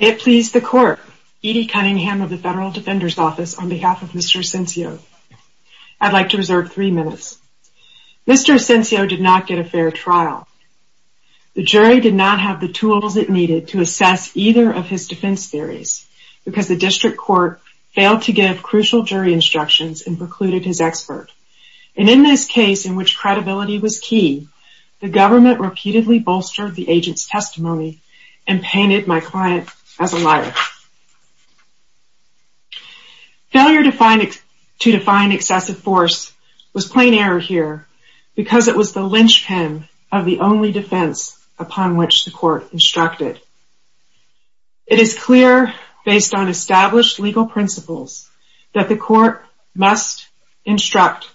May it please the Court, Edie Cunningham of the Federal Defender's Office, on behalf of Mr. Asencio. I'd like to reserve three minutes. Mr. Asencio did not get a fair trial. The jury did not have the tools it needed to assess either of his defense theories because the district court failed to give crucial jury instructions and precluded his expert. And in this case, in which credibility was key, the government repeatedly bolstered the agent's testimony and painted my client as a liar. Failure to define excessive force was plain error here because it was the linchpin of the only defense upon which the court instructed. It is clear, based on established legal principles, that the court must instruct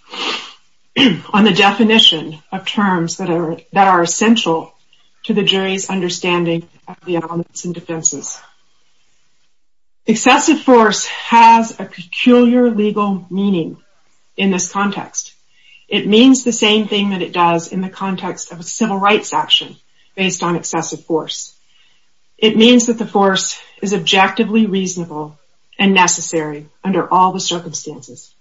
on the definition of terms that are essential to the jury's understanding of the elements in defenses. Excessive force has a peculiar legal meaning in this context. It means the same thing that it does in the context of a civil rights action based on excessive force. It means that the force is objectively reasonable and necessary under all the circumstances.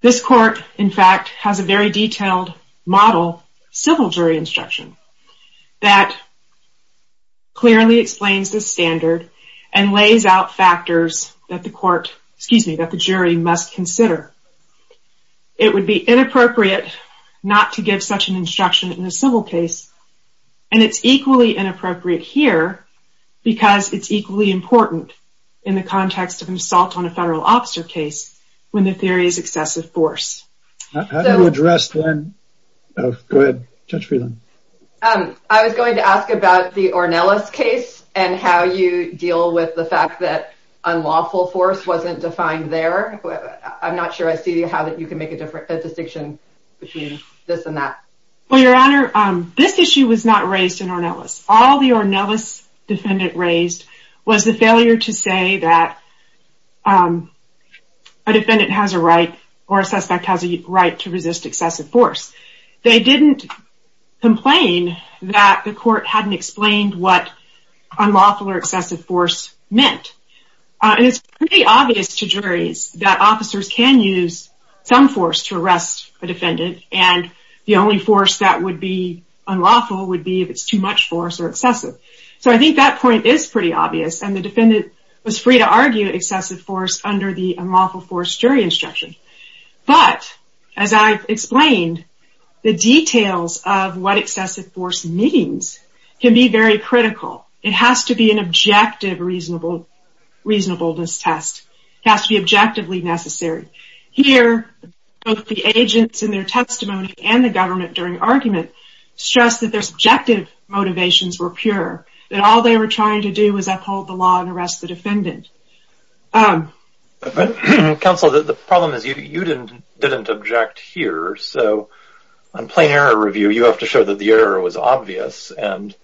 This court, in fact, has a very detailed model civil jury instruction that clearly explains the standard and lays out factors that the jury must consider. It would be inappropriate not to give such an instruction in a civil case, and it's equally inappropriate here because it's equally important in the context of an assault on a federal officer case when the theory is excessive force. I was going to ask about the Ornelas case and how you deal with the fact that unlawful force wasn't defined there. I'm not sure I see how you can make a distinction between this and that. Well, Your Honor, this issue was not raised in Ornelas. All the Ornelas defendant raised was the failure to say that a defendant has a right or a suspect has a right to resist excessive force. They didn't complain that the court hadn't explained what unlawful or excessive force meant. It's pretty obvious to juries that officers can use some force to arrest a defendant, and the only force that would be unlawful would be if it's too much force or excessive. So I think that point is pretty obvious, and the defendant was free to argue excessive force under the unlawful force jury instruction. But, as I've explained, the details of what excessive force means can be very critical. It has to be an objective reasonableness test. It has to be objectively necessary. Here, both the agents in their testimony and the government during argument stressed that their subjective motivations were pure, that all they were trying to do was uphold the law and arrest the defendant. Counsel, the problem is you didn't object here. So on plain error review, you have to show that the error was obvious, and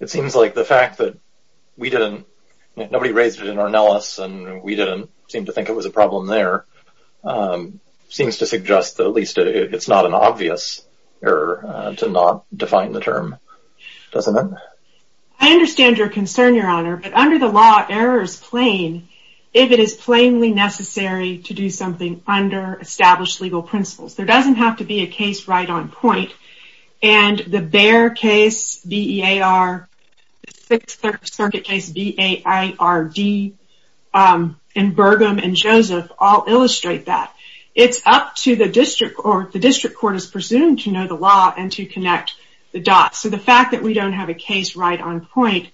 it seems like the fact that nobody raised it in Arnellis and we didn't seem to think it was a problem there seems to suggest that at least it's not an obvious error to not define the term, doesn't it? I understand your concern, Your Honor, but under the law, error is plain if it is plainly necessary to do something under established legal principles. There doesn't have to be a case right on point, and the Behr case, BEAR, the Sixth Circuit case, BAIRD, and Burgum and Joseph all illustrate that. It's up to the district court, the district court is presumed to know the law and to connect the dots. So the fact that we don't have a case right on point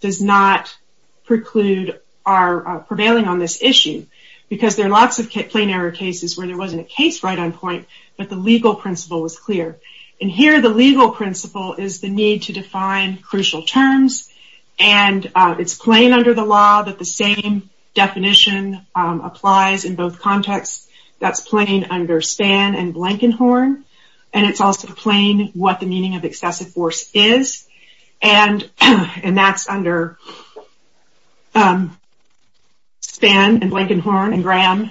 does not preclude our prevailing on this issue, because there are lots of plain error cases where there wasn't a case right on point, but the legal principle was clear. And here the legal principle is the need to define crucial terms, and it's plain under the law that the same definition applies in both contexts. That's plain under Span and Blankenhorn, and it's also plain what the meaning of excessive force is, and that's under Span and Blankenhorn and Graham,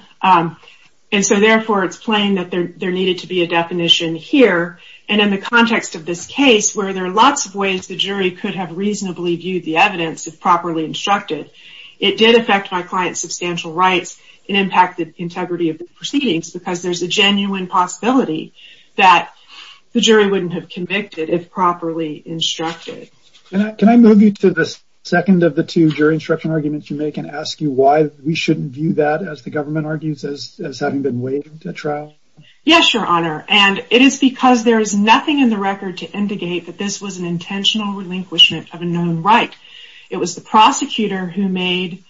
and so therefore it's plain that there needed to be a definition here. And in the context of this case, where there are lots of ways the jury could have reasonably viewed the evidence if properly instructed, it did affect my client's substantial rights and impact the integrity of the proceedings, because there's a genuine possibility that the jury wouldn't have convicted if properly instructed. Can I move you to the second of the two jury instruction arguments you make, and ask you why we shouldn't view that, as the government argues, as having been waived at trial? Yes, Your Honor, and it is because there is nothing in the record to indicate that this was an intentional relinquishment of a known right. It was the prosecutor who made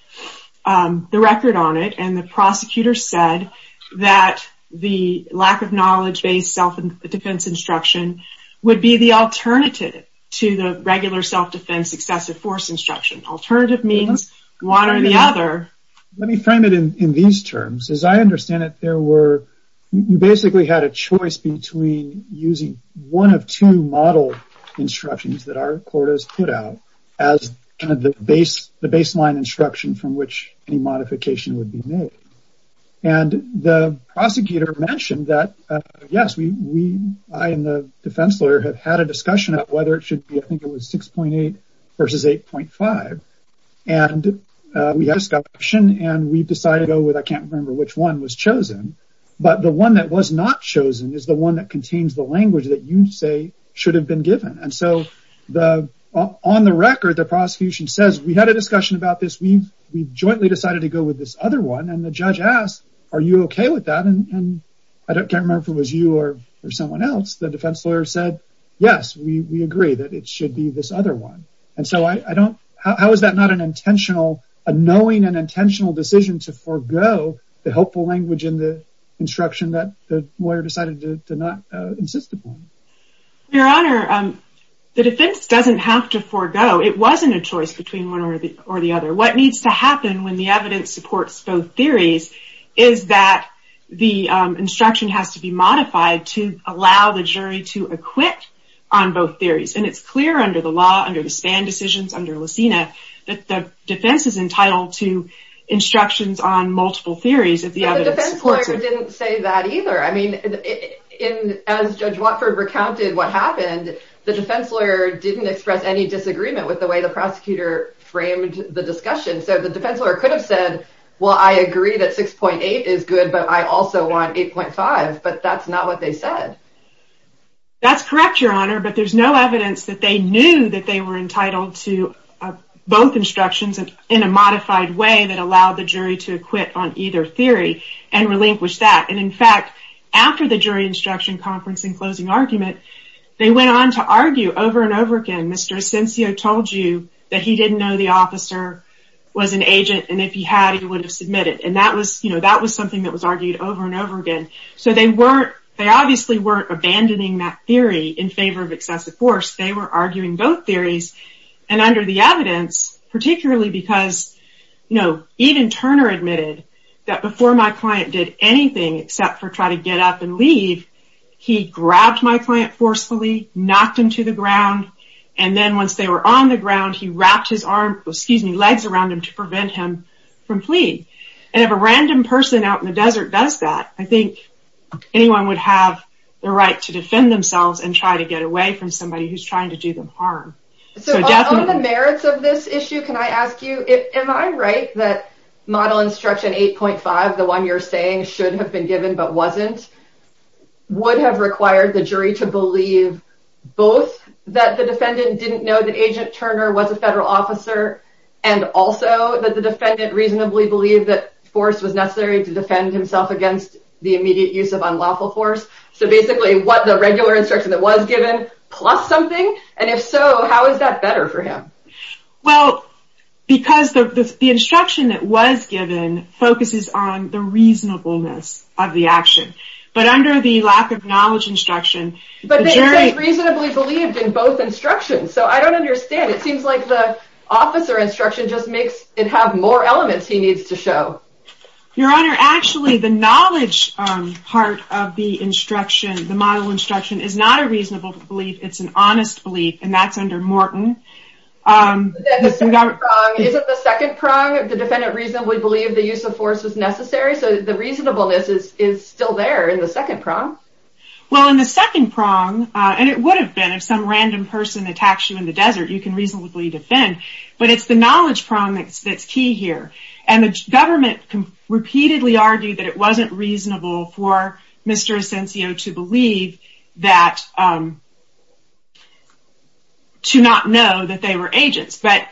the record on it, and the prosecutor said that the lack of knowledge-based self-defense instruction would be the alternative to the regular self-defense excessive force instruction. Alternative means one or the other. Let me frame it in these terms. As I understand it, you basically had a choice between using one of two model instructions that our court has put out as kind of the baseline instruction from which any modification would be made. And the prosecutor mentioned that, yes, we, I and the defense lawyer, have had a discussion of whether it should be, I think it was 6.8 versus 8.5, and we had a discussion, and we decided to go with, I can't remember which one was chosen, but the one that was not chosen is the one that contains the language that you say should have been given. And so, on the record, the prosecution says, we had a discussion about this, we've jointly decided to go with this other one, and the judge asks, are you okay with that? And I can't remember if it was you or someone else. The defense lawyer said, yes, we agree that it should be this other one. And so I don't, how is that not an intentional, a knowing and intentional decision to forego the helpful language in the instruction that the lawyer decided to not insist upon? Your Honor, the defense doesn't have to forego. It wasn't a choice between one or the other. What needs to happen when the evidence supports both theories is that the instruction has to be modified to allow the jury to acquit on both theories. And it's clear under the law, under the Spann decisions, under Lucina, that the defense is entitled to instructions on multiple theories if the evidence supports it. The defense lawyer didn't say that either. I mean, as Judge Watford recounted what happened, the defense lawyer didn't express any disagreement with the way the prosecutor framed the discussion. So the defense lawyer could have said, well, I agree that 6.8 is good, but I also want 8.5. But that's not what they said. That's correct, Your Honor, but there's no evidence that they knew that they were entitled to both instructions in a modified way that allowed the jury to acquit on either theory and relinquish that. And in fact, after the jury instruction conference and closing argument, they went on to argue over and over again. Mr. Ascensio told you that he didn't know the officer was an agent, and if he had, he would have submitted. And that was something that was argued over and over again. So they obviously weren't abandoning that theory in favor of excessive force. They were arguing both theories. And under the evidence, particularly because, you know, even Turner admitted that before my client did anything except for try to get up and leave, he grabbed my client forcefully, knocked him to the ground. And then once they were on the ground, he wrapped his arm, excuse me, legs around him to prevent him from fleeing. And if a random person out in the desert does that, I think anyone would have the right to defend themselves and try to get away from somebody who's trying to do them harm. So on the merits of this issue, can I ask you, am I right that model instruction 8.5, the one you're saying should have been given but wasn't, would have required the jury to believe both that the defendant didn't know that Agent Turner was a federal officer and also that the defendant reasonably believed that force was necessary to defend himself against the immediate use of unlawful force? So basically, what the regular instruction that was given plus something? And if so, how is that better for him? Well, because the instruction that was given focuses on the reasonableness of the action. But under the lack of knowledge instruction, the jury... But they said reasonably believed in both instructions. So I don't understand. It seems like the officer instruction just makes it have more elements he needs to show. Your Honor, actually, the knowledge part of the instruction, the model instruction, is not a reasonable belief. It's an honest belief, and that's under Morton. Isn't the second prong, the defendant reasonably believed the use of force was necessary? So the reasonableness is still there in the second prong? Well, in the second prong, and it would have been if some random person attacks you in the desert, you can reasonably defend. But it's the knowledge prong that's key here. And the government repeatedly argued that it wasn't reasonable for Mr. Ascensio to believe that... to not know that they were agents. But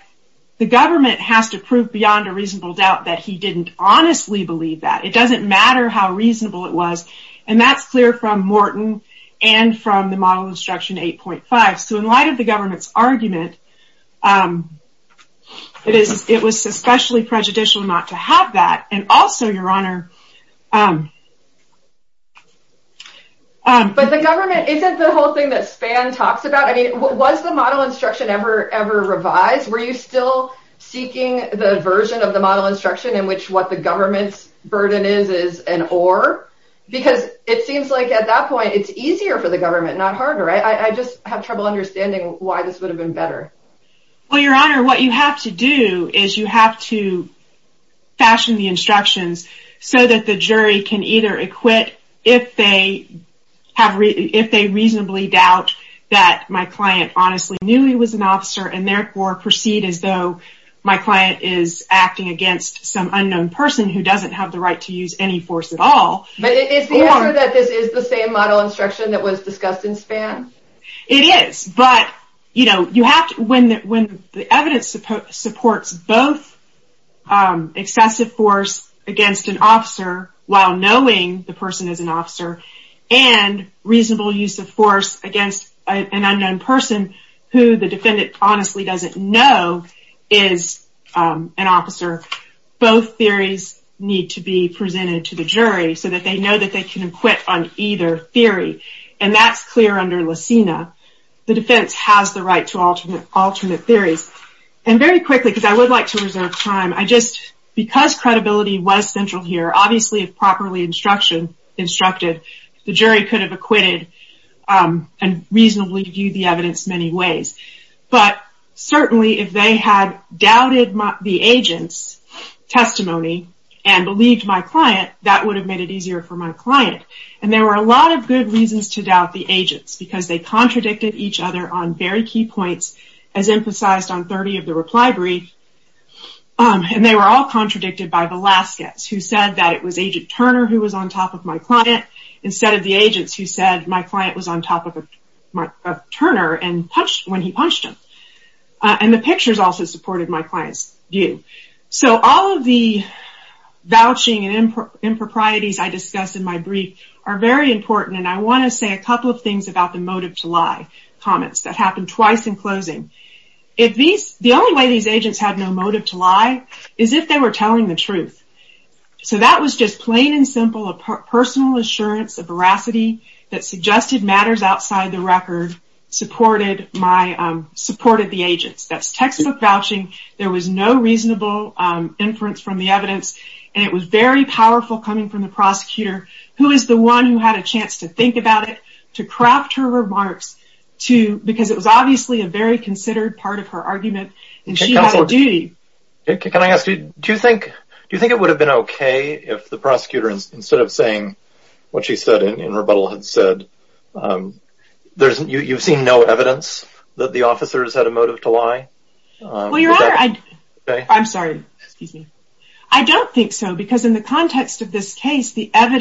the government has to prove beyond a reasonable doubt that he didn't honestly believe that. It doesn't matter how reasonable it was, and that's clear from Morton and from the model instruction 8.5. So in light of the government's argument, it was especially prejudicial not to have that. And also, Your Honor... But the government isn't the whole thing that Spann talks about. I mean, was the model instruction ever revised? Were you still seeking the version of the model instruction in which what the government's burden is is an or? Because it seems like at that point, it's easier for the government, not harder. I just have trouble understanding why this would have been better. Well, Your Honor, what you have to do is you have to fashion the instructions so that the jury can either acquit if they reasonably doubt that my client honestly knew he was an officer and therefore proceed as though my client is acting against some unknown person who doesn't have the right to use any force at all. But is the answer that this is the same model instruction that was discussed in Spann? It is, but, you know, you have to... When the evidence supports both excessive force against an officer while knowing the person is an officer and reasonable use of force against an unknown person who the defendant honestly doesn't know is an officer, both theories need to be presented to the jury so that they know that they can acquit on either theory. And that's clear under Lysina. The defense has the right to alternate theories. And very quickly, because I would like to reserve time, I just... Because credibility was central here, obviously, if properly instructed, the jury could have acquitted and reasonably viewed the evidence many ways. But certainly, if they had doubted the agent's testimony and believed my client, that would have made it easier for my client. And there were a lot of good reasons to doubt the agent's, because they contradicted each other on very key points, as emphasized on 30 of the reply brief. And they were all contradicted by Velazquez, who said that it was Agent Turner who was on top of my client, instead of the agents who said my client was on top of Turner when he punched him. And the pictures also supported my client's view. So all of the vouching and improprieties I discussed in my brief are very important, and I want to say a couple of things about the motive to lie comments that happened twice in closing. The only way these agents had no motive to lie is if they were telling the truth. So that was just plain and simple, a personal assurance of veracity that suggested matters outside the record supported the agents. That's textbook vouching. There was no reasonable inference from the evidence. And it was very powerful coming from the prosecutor, who is the one who had a chance to think about it, to craft her remarks, because it was obviously a very considered part of her argument, and she had a duty. Can I ask, do you think it would have been okay if the prosecutor, instead of saying what she said in rebuttal, had said, you've seen no evidence that the officers had a motive to lie? Well, you're right. I'm sorry. Excuse me. I don't think so, because in the context of this case, under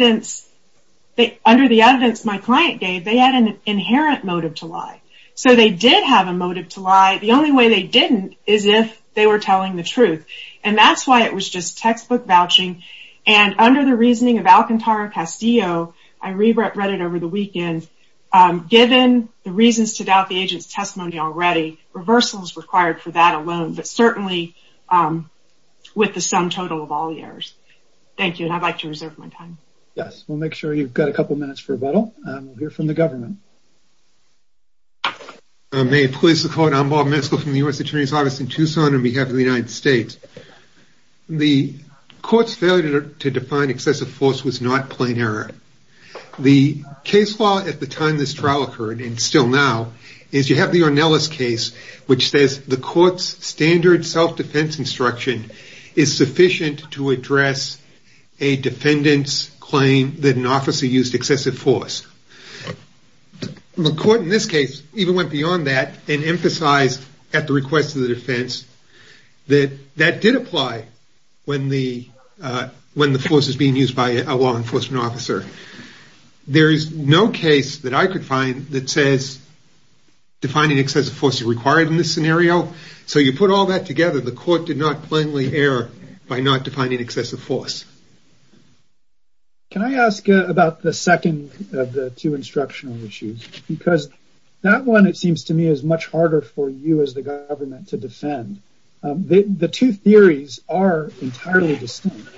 the evidence my client gave, they had an inherent motive to lie. So they did have a motive to lie. The only way they didn't is if they were telling the truth. And that's why it was just textbook vouching. And under the reasoning of Alcantara Castillo, I reread it over the weekend, given the reasons to doubt the agent's testimony already, reversals required for that alone, but certainly with the sum total of all the errors. Thank you, and I'd like to reserve my time. Yes, we'll make sure you've got a couple minutes for rebuttal. We'll hear from the government. May it please the court, I'm Bob Meskel from the U.S. Attorney's Office in Tucson on behalf of the United States. The court's failure to define excessive force was not plain error. The case law at the time this trial occurred, and still now, is you have the Ornelas case, which says the court's standard self-defense instruction is sufficient to address a defendant's claim that an officer used excessive force. The court in this case even went beyond that and emphasized at the request of the defense that that did apply when the force is being used by a law enforcement officer. There is no case that I could find that says defining excessive force is required in this scenario. So you put all that together, the court did not plainly err by not defining excessive force. Can I ask about the second of the two instructional issues? Because that one, it seems to me, is much harder for you as the government to defend. The two theories are entirely distinct.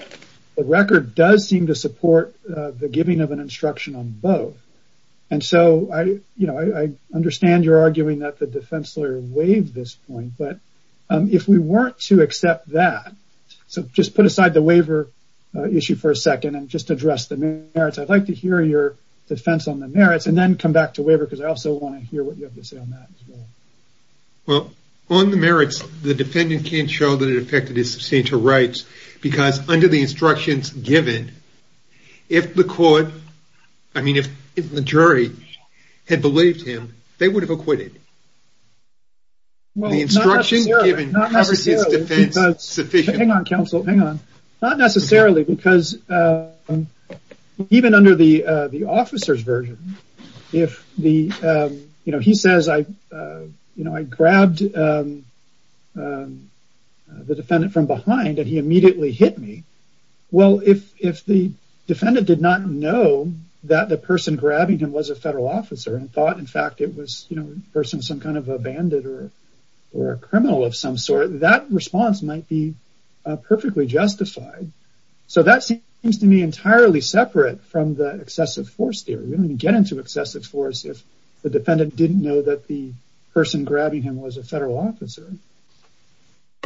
The record does seem to support the giving of an instruction on both. And so I understand you're arguing that the defense lawyer waived this point, but if we weren't to accept that, so just put aside the waiver issue for a second and just address the merits. I'd like to hear your defense on the merits and then come back to waiver because I also want to hear what you have to say on that as well. Well, on the merits, the defendant can't show that it affected his substantial rights because under the instructions given, if the jury had believed him, they would have acquitted him. Well, not necessarily. The instructions given covers his defense sufficiently. Hang on, counsel, hang on. Not necessarily because even under the officer's version, if he says I grabbed the defendant from behind and he immediately hit me, well, if the defendant did not know that the person grabbing him was a federal officer and thought, in fact, it was a person, some kind of a bandit or a criminal of some sort, that response might be perfectly justified. So that seems to me entirely separate from the excessive force theory. We don't even get into excessive force if the defendant didn't know that the person grabbing him was a federal officer.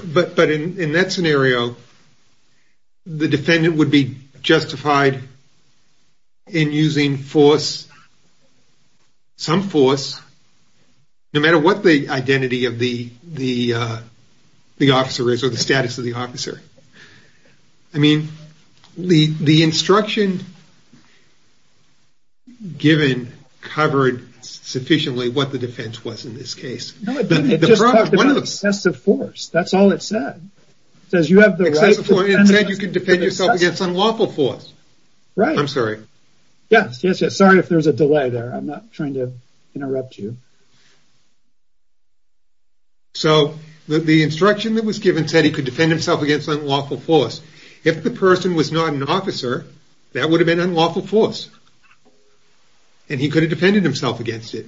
But in that scenario, the defendant would be justified in using force, some force, no matter what the identity of the officer is or the status of the officer. I mean, the instruction given covered sufficiently what the defense was in this case. Excessive force, that's all it said. It said you could defend yourself against unlawful force. Right. I'm sorry. Yes, sorry if there's a delay there. I'm not trying to interrupt you. So the instruction that was given said he could defend himself against unlawful force. If the person was not an officer, that would have been unlawful force. And he could have defended himself against it.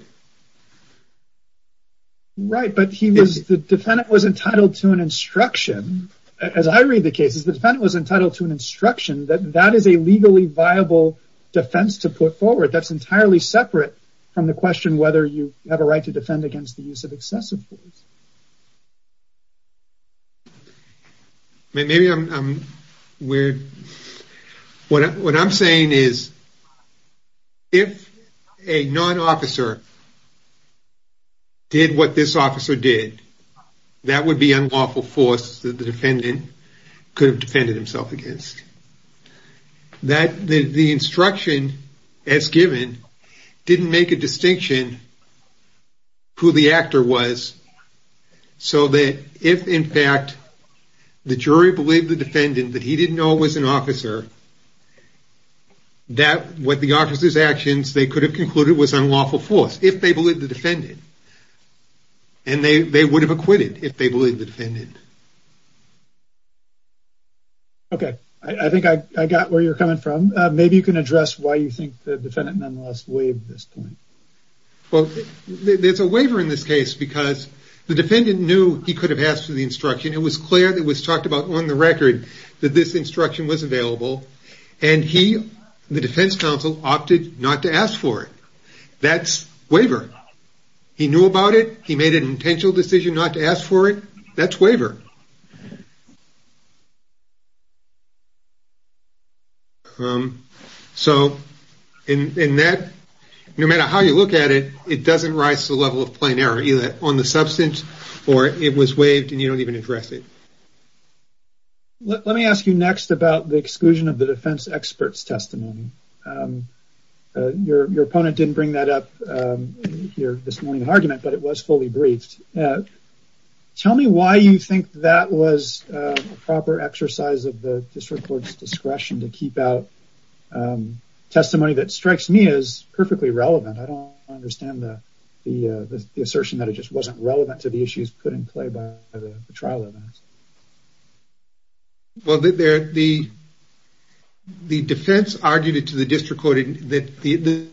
Right. But he was the defendant was entitled to an instruction. As I read the cases, the defendant was entitled to an instruction that that is a legally viable defense to put forward. That's entirely separate from the question whether you have a right to defend against the use of excessive force. Maybe I'm weird. What I'm saying is if a non-officer did what this officer did, that would be unlawful force that the defendant could have defended himself against. That the instruction as given didn't make a distinction who the actor was so that if in fact the jury believed the defendant that he didn't know was an officer, that what the officer's actions they could have concluded was unlawful force if they believed the defendant. And they would have acquitted if they believed the defendant. Okay. I think I got where you're coming from. Maybe you can address why you think the defendant nonetheless waived this point. Well, there's a waiver in this case because the defendant knew he could have asked for the instruction. It was clear that was talked about on the record that this instruction was available. And he, the defense counsel, opted not to ask for it. That's waiver. He knew about it. He made an intentional decision not to ask for it. That's waiver. So, in that, no matter how you look at it, it doesn't rise to the level of plain error either on the substance or it was waived and you don't even address it. Let me ask you next about the exclusion of the defense expert's testimony. Your opponent didn't bring that up here this morning in the argument, but it was fully briefed. Tell me why you think that was a proper exercise of the district court's discretion to keep out testimony that strikes me as perfectly relevant. I don't understand the assertion that it just wasn't relevant to the issues put in play by the trial evidence. Well, the defense argued it to the district court that the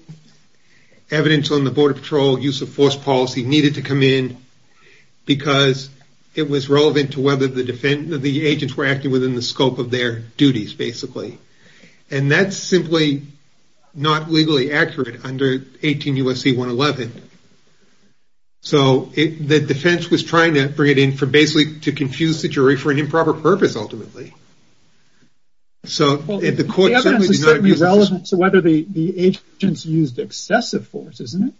evidence on the Border Patrol use of force policy needed to come in because it was relevant to whether the agents were acting within the scope of their duties, basically. And that's simply not legally accurate under 18 U.S.C. 111. So, the defense was trying to bring it in for basically to confuse the jury for an improper purpose ultimately. So, the court certainly did not agree with this. Well, the evidence is certainly relevant to whether the agents used excessive force, isn't it?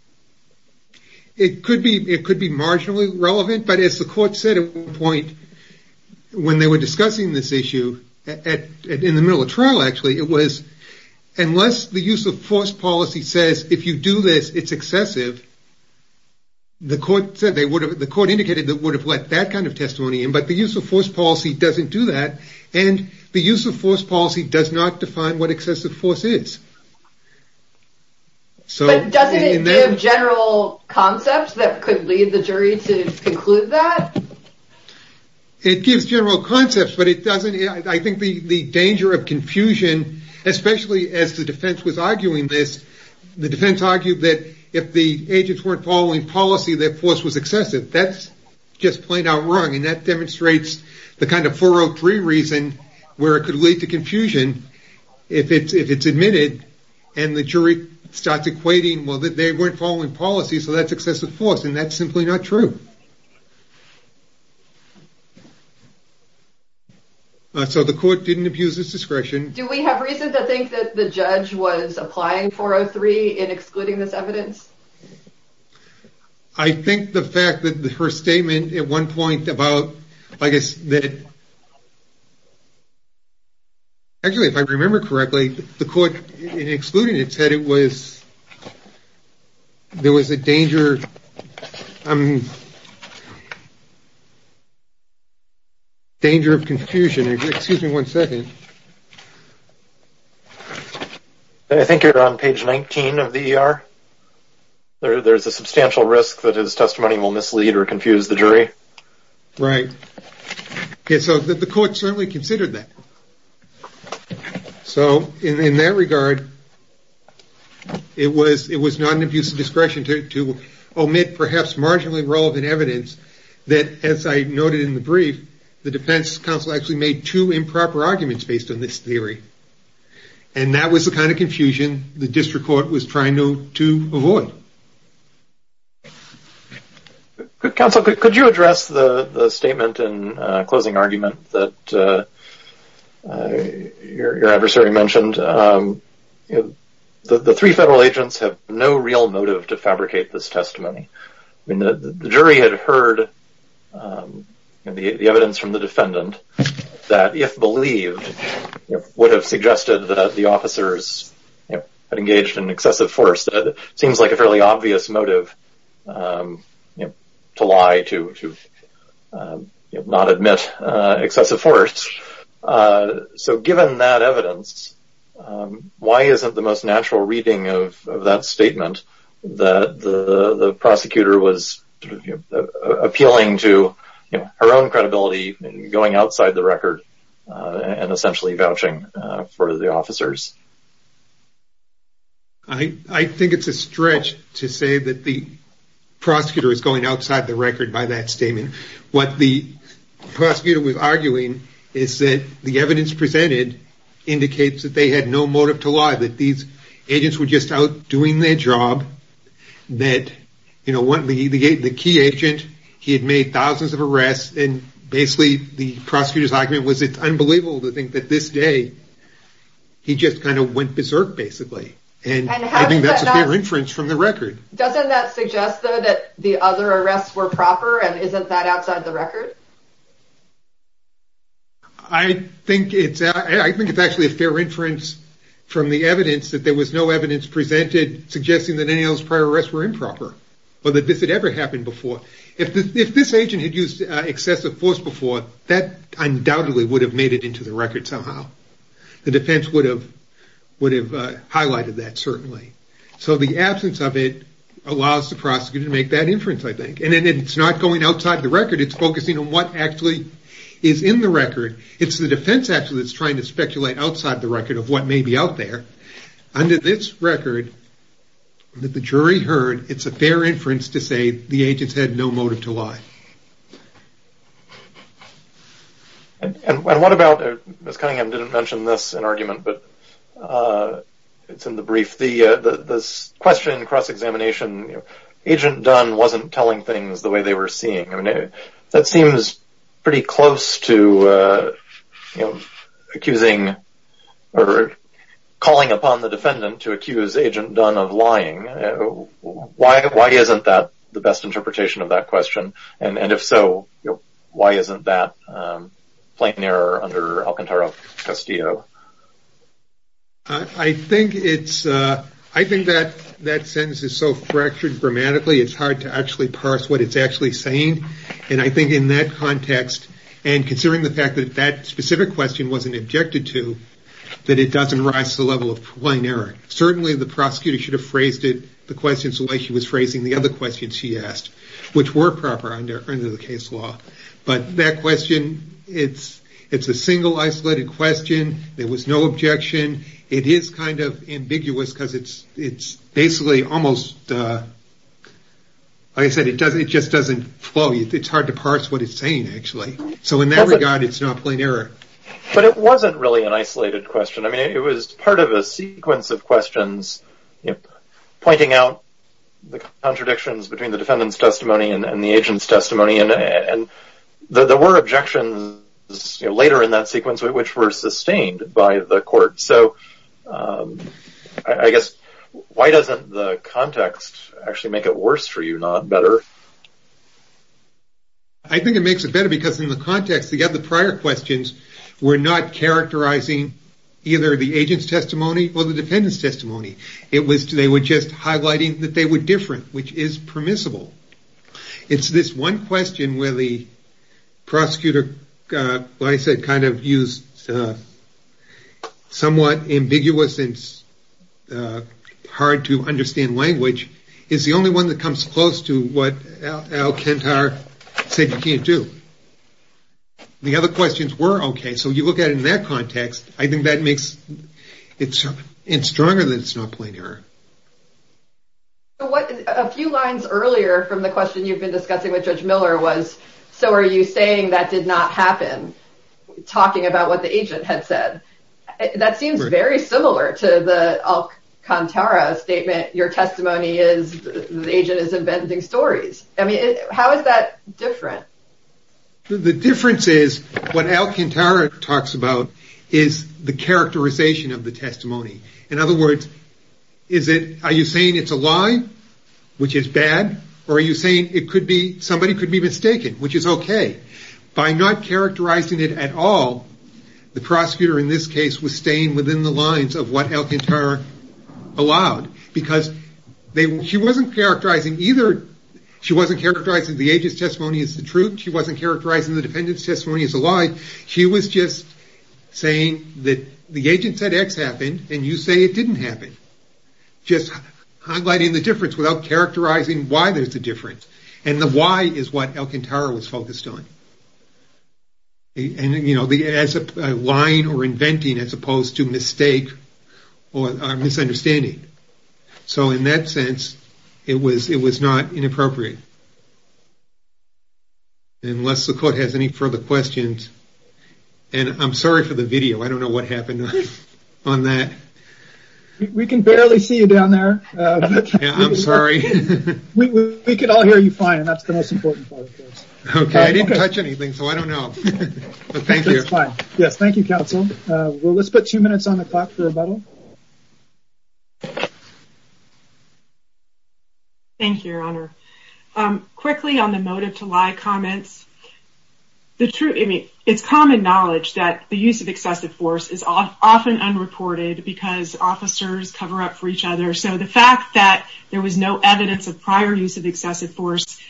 It could be marginally relevant, but as the court said at one point when they were discussing this issue in the middle of trial actually, it was unless the use of force policy says if you do this, it's excessive, the court indicated they would have let that kind of testimony in, but the use of force policy doesn't do that. And the use of force policy does not define what excessive force is. But doesn't it give general concepts that could lead the jury to conclude that? It gives general concepts, but I think the danger of confusion, especially as the defense was arguing this, the defense argued that if the agents weren't following policy, that force was excessive. That's just plain out wrong, and that demonstrates the kind of 403 reason where it could lead to confusion if it's admitted and the jury starts equating, well, they weren't following policy, so that's excessive force, and that's simply not true. So the court didn't abuse its discretion. Do we have reason to think that the judge was applying 403 in excluding this evidence? I think the fact that her statement at one point about, I guess, actually if I remember correctly, the court in excluding it said it was, there was a danger of confusion. Excuse me one second. I think you're on page 19 of the ER. There's a substantial risk that his testimony will mislead or confuse the jury. Right. So the court certainly considered that. So in that regard, it was not an abuse of discretion to omit perhaps marginally relevant evidence that, as I noted in the brief, the defense counsel actually made two improper arguments based on this theory, and that was the kind of confusion the district court was trying to avoid. Counsel, could you address the statement in closing argument that your adversary mentioned? The three federal agents have no real motive to fabricate this testimony. I mean, the jury had heard the evidence from the defendant that if believed, would have suggested that the officers had engaged in excessive force. That seems like a fairly obvious motive to lie, to not admit excessive force. So given that evidence, why isn't the most natural reading of that statement, that the prosecutor was appealing to her own credibility going outside the record I think it's a stretch to say that the prosecutor is going outside the record by that statement. What the prosecutor was arguing is that the evidence presented indicates that they had no motive to lie, that these agents were just out doing their job, that the key agent, he had made thousands of arrests, and basically the prosecutor's argument was it's unbelievable to think that this day, he just kind of went berserk basically, and I think that's a fair inference from the record. Doesn't that suggest, though, that the other arrests were proper, and isn't that outside the record? I think it's actually a fair inference from the evidence that there was no evidence presented suggesting that any of those prior arrests were improper, or that this had ever happened before. If this agent had used excessive force before, that undoubtedly would have made it into the record somehow. The defense would have highlighted that, certainly. So the absence of it allows the prosecutor to make that inference, I think. And it's not going outside the record, it's focusing on what actually is in the record. It's the defense actually that's trying to speculate outside the record of what may be out there. Under this record, that the jury heard, it's a fair inference to say the agents had no motive to lie. And what about, Ms. Cunningham didn't mention this in argument, but it's in the brief, this question in cross-examination, Agent Dunn wasn't telling things the way they were seeing. That seems pretty close to accusing, or calling upon the defendant to accuse Agent Dunn of lying. Why isn't that the best interpretation of that question? And if so, why isn't that plain error under Alcantara-Castillo? I think that sentence is so fractured grammatically, it's hard to actually parse what it's actually saying. And I think in that context, and considering the fact that that specific question wasn't objected to, that it doesn't rise to the level of plain error. Certainly the prosecutor should have phrased it the questions the way he was phrasing the other questions he asked, which were proper under the case law. But that question, it's a single isolated question. There was no objection. It is kind of ambiguous, because it's basically almost, like I said, it just doesn't flow. It's hard to parse what it's saying, actually. So in that regard, it's not plain error. But it wasn't really an isolated question. I mean, it was part of a sequence of questions pointing out the contradictions between the defendant's testimony and the agent's testimony. And there were objections later in that sequence, which were sustained by the court. So I guess, why doesn't the context actually make it worse for you, not better? I think it makes it better, because in the context, the prior questions were not characterizing either the agent's testimony or the defendant's testimony. They were just highlighting that they were different, which is permissible. It's this one question where the prosecutor, like I said, kind of used somewhat ambiguous and hard-to-understand language, is the only one that comes close to what Al Kentar said you can't do. The other questions were okay. So you look at it in that context, I think that makes it stronger that it's not plain error. A few lines earlier from the question you've been discussing with Judge Miller was, so are you saying that did not happen, talking about what the agent had said? That seems very similar to the Al Kentar statement, your testimony is the agent is inventing stories. I mean, how is that different? The difference is what Al Kentar talks about is the characterization of the testimony. In other words, are you saying it's a lie, which is bad? Or are you saying somebody could be mistaken, which is okay? By not characterizing it at all, the prosecutor in this case was staying within the lines of what Al Kentar allowed. Because she wasn't characterizing either, she wasn't characterizing the agent's testimony as the truth, she wasn't characterizing the defendant's testimony as a lie, she was just saying that the agent said X happened, and you say it didn't happen. Just highlighting the difference without characterizing why there's a difference. And the why is what Al Kentar was focused on. And you know, lying or inventing as opposed to mistake or misunderstanding. So in that sense, it was not inappropriate. Unless the court has any further questions. And I'm sorry for the video, I don't know what happened on that. We can barely see you down there. I'm sorry. We can all hear you fine, and that's the most important part. Okay, I didn't touch anything, so I don't know. But thank you. Yes, thank you, counsel. Let's put two minutes on the clock for rebuttal. Thank you, your honor. Quickly on the motive to lie comments. It's common knowledge that the use of excessive force is often unreported because officers cover up for each other. So the fact that there was no evidence of prior use of excessive force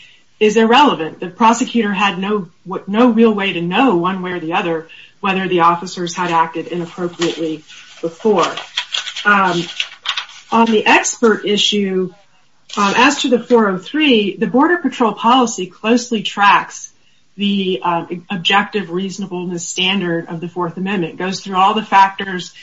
is irrelevant. The prosecutor had no real way to know one way or the other whether the officers had acted inappropriately before. On the expert issue, as to the 403, the Border Patrol policy closely tracks the objective reasonableness standard of the Fourth Amendment. It goes through all the factors,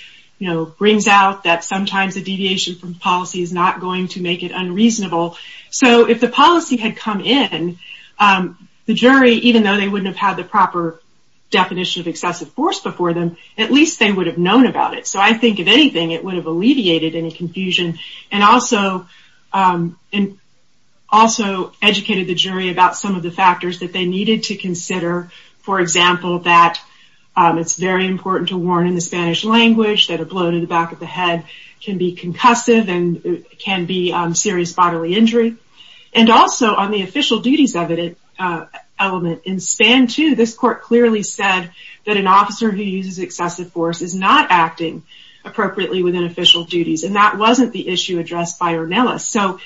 brings out that sometimes a deviation from policy is not going to make it unreasonable. So if the policy had come in, the jury, even though they wouldn't have had the proper definition of excessive force before them, at least they would have known about it. So I think, if anything, it would have alleviated any confusion and also educated the jury about some of the factors that they needed to consider. For example, that it's very important to warn in the Spanish language that a blow to the back of the head can be concussive and can be serious bodily injury. And also, on the official duties element, in SPAN 2, this court clearly said that an officer who uses excessive force is not acting appropriately within official duties. And that wasn't the issue addressed by Ornelas. So,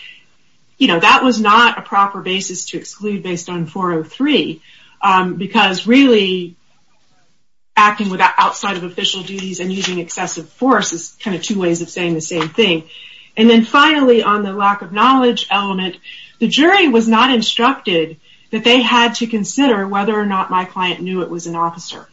you know, that was not a proper basis to exclude based on 403. Because really, acting outside of official duties and using excessive force is kind of two ways of saying the same thing. And then finally, on the lack of knowledge element, the jury was not instructed that they had to consider whether or not my client knew it was an officer.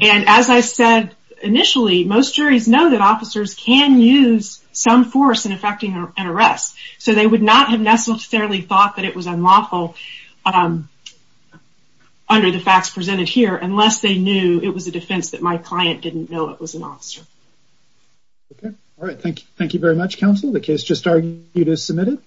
And as I said initially, most juries know that officers can use some force in effecting an arrest. So they would not have necessarily thought that it was unlawful under the facts presented here unless they knew it was a defense that my client didn't know it was an officer. Okay. All right. Thank you very much, counsel. The case just argued is submitted.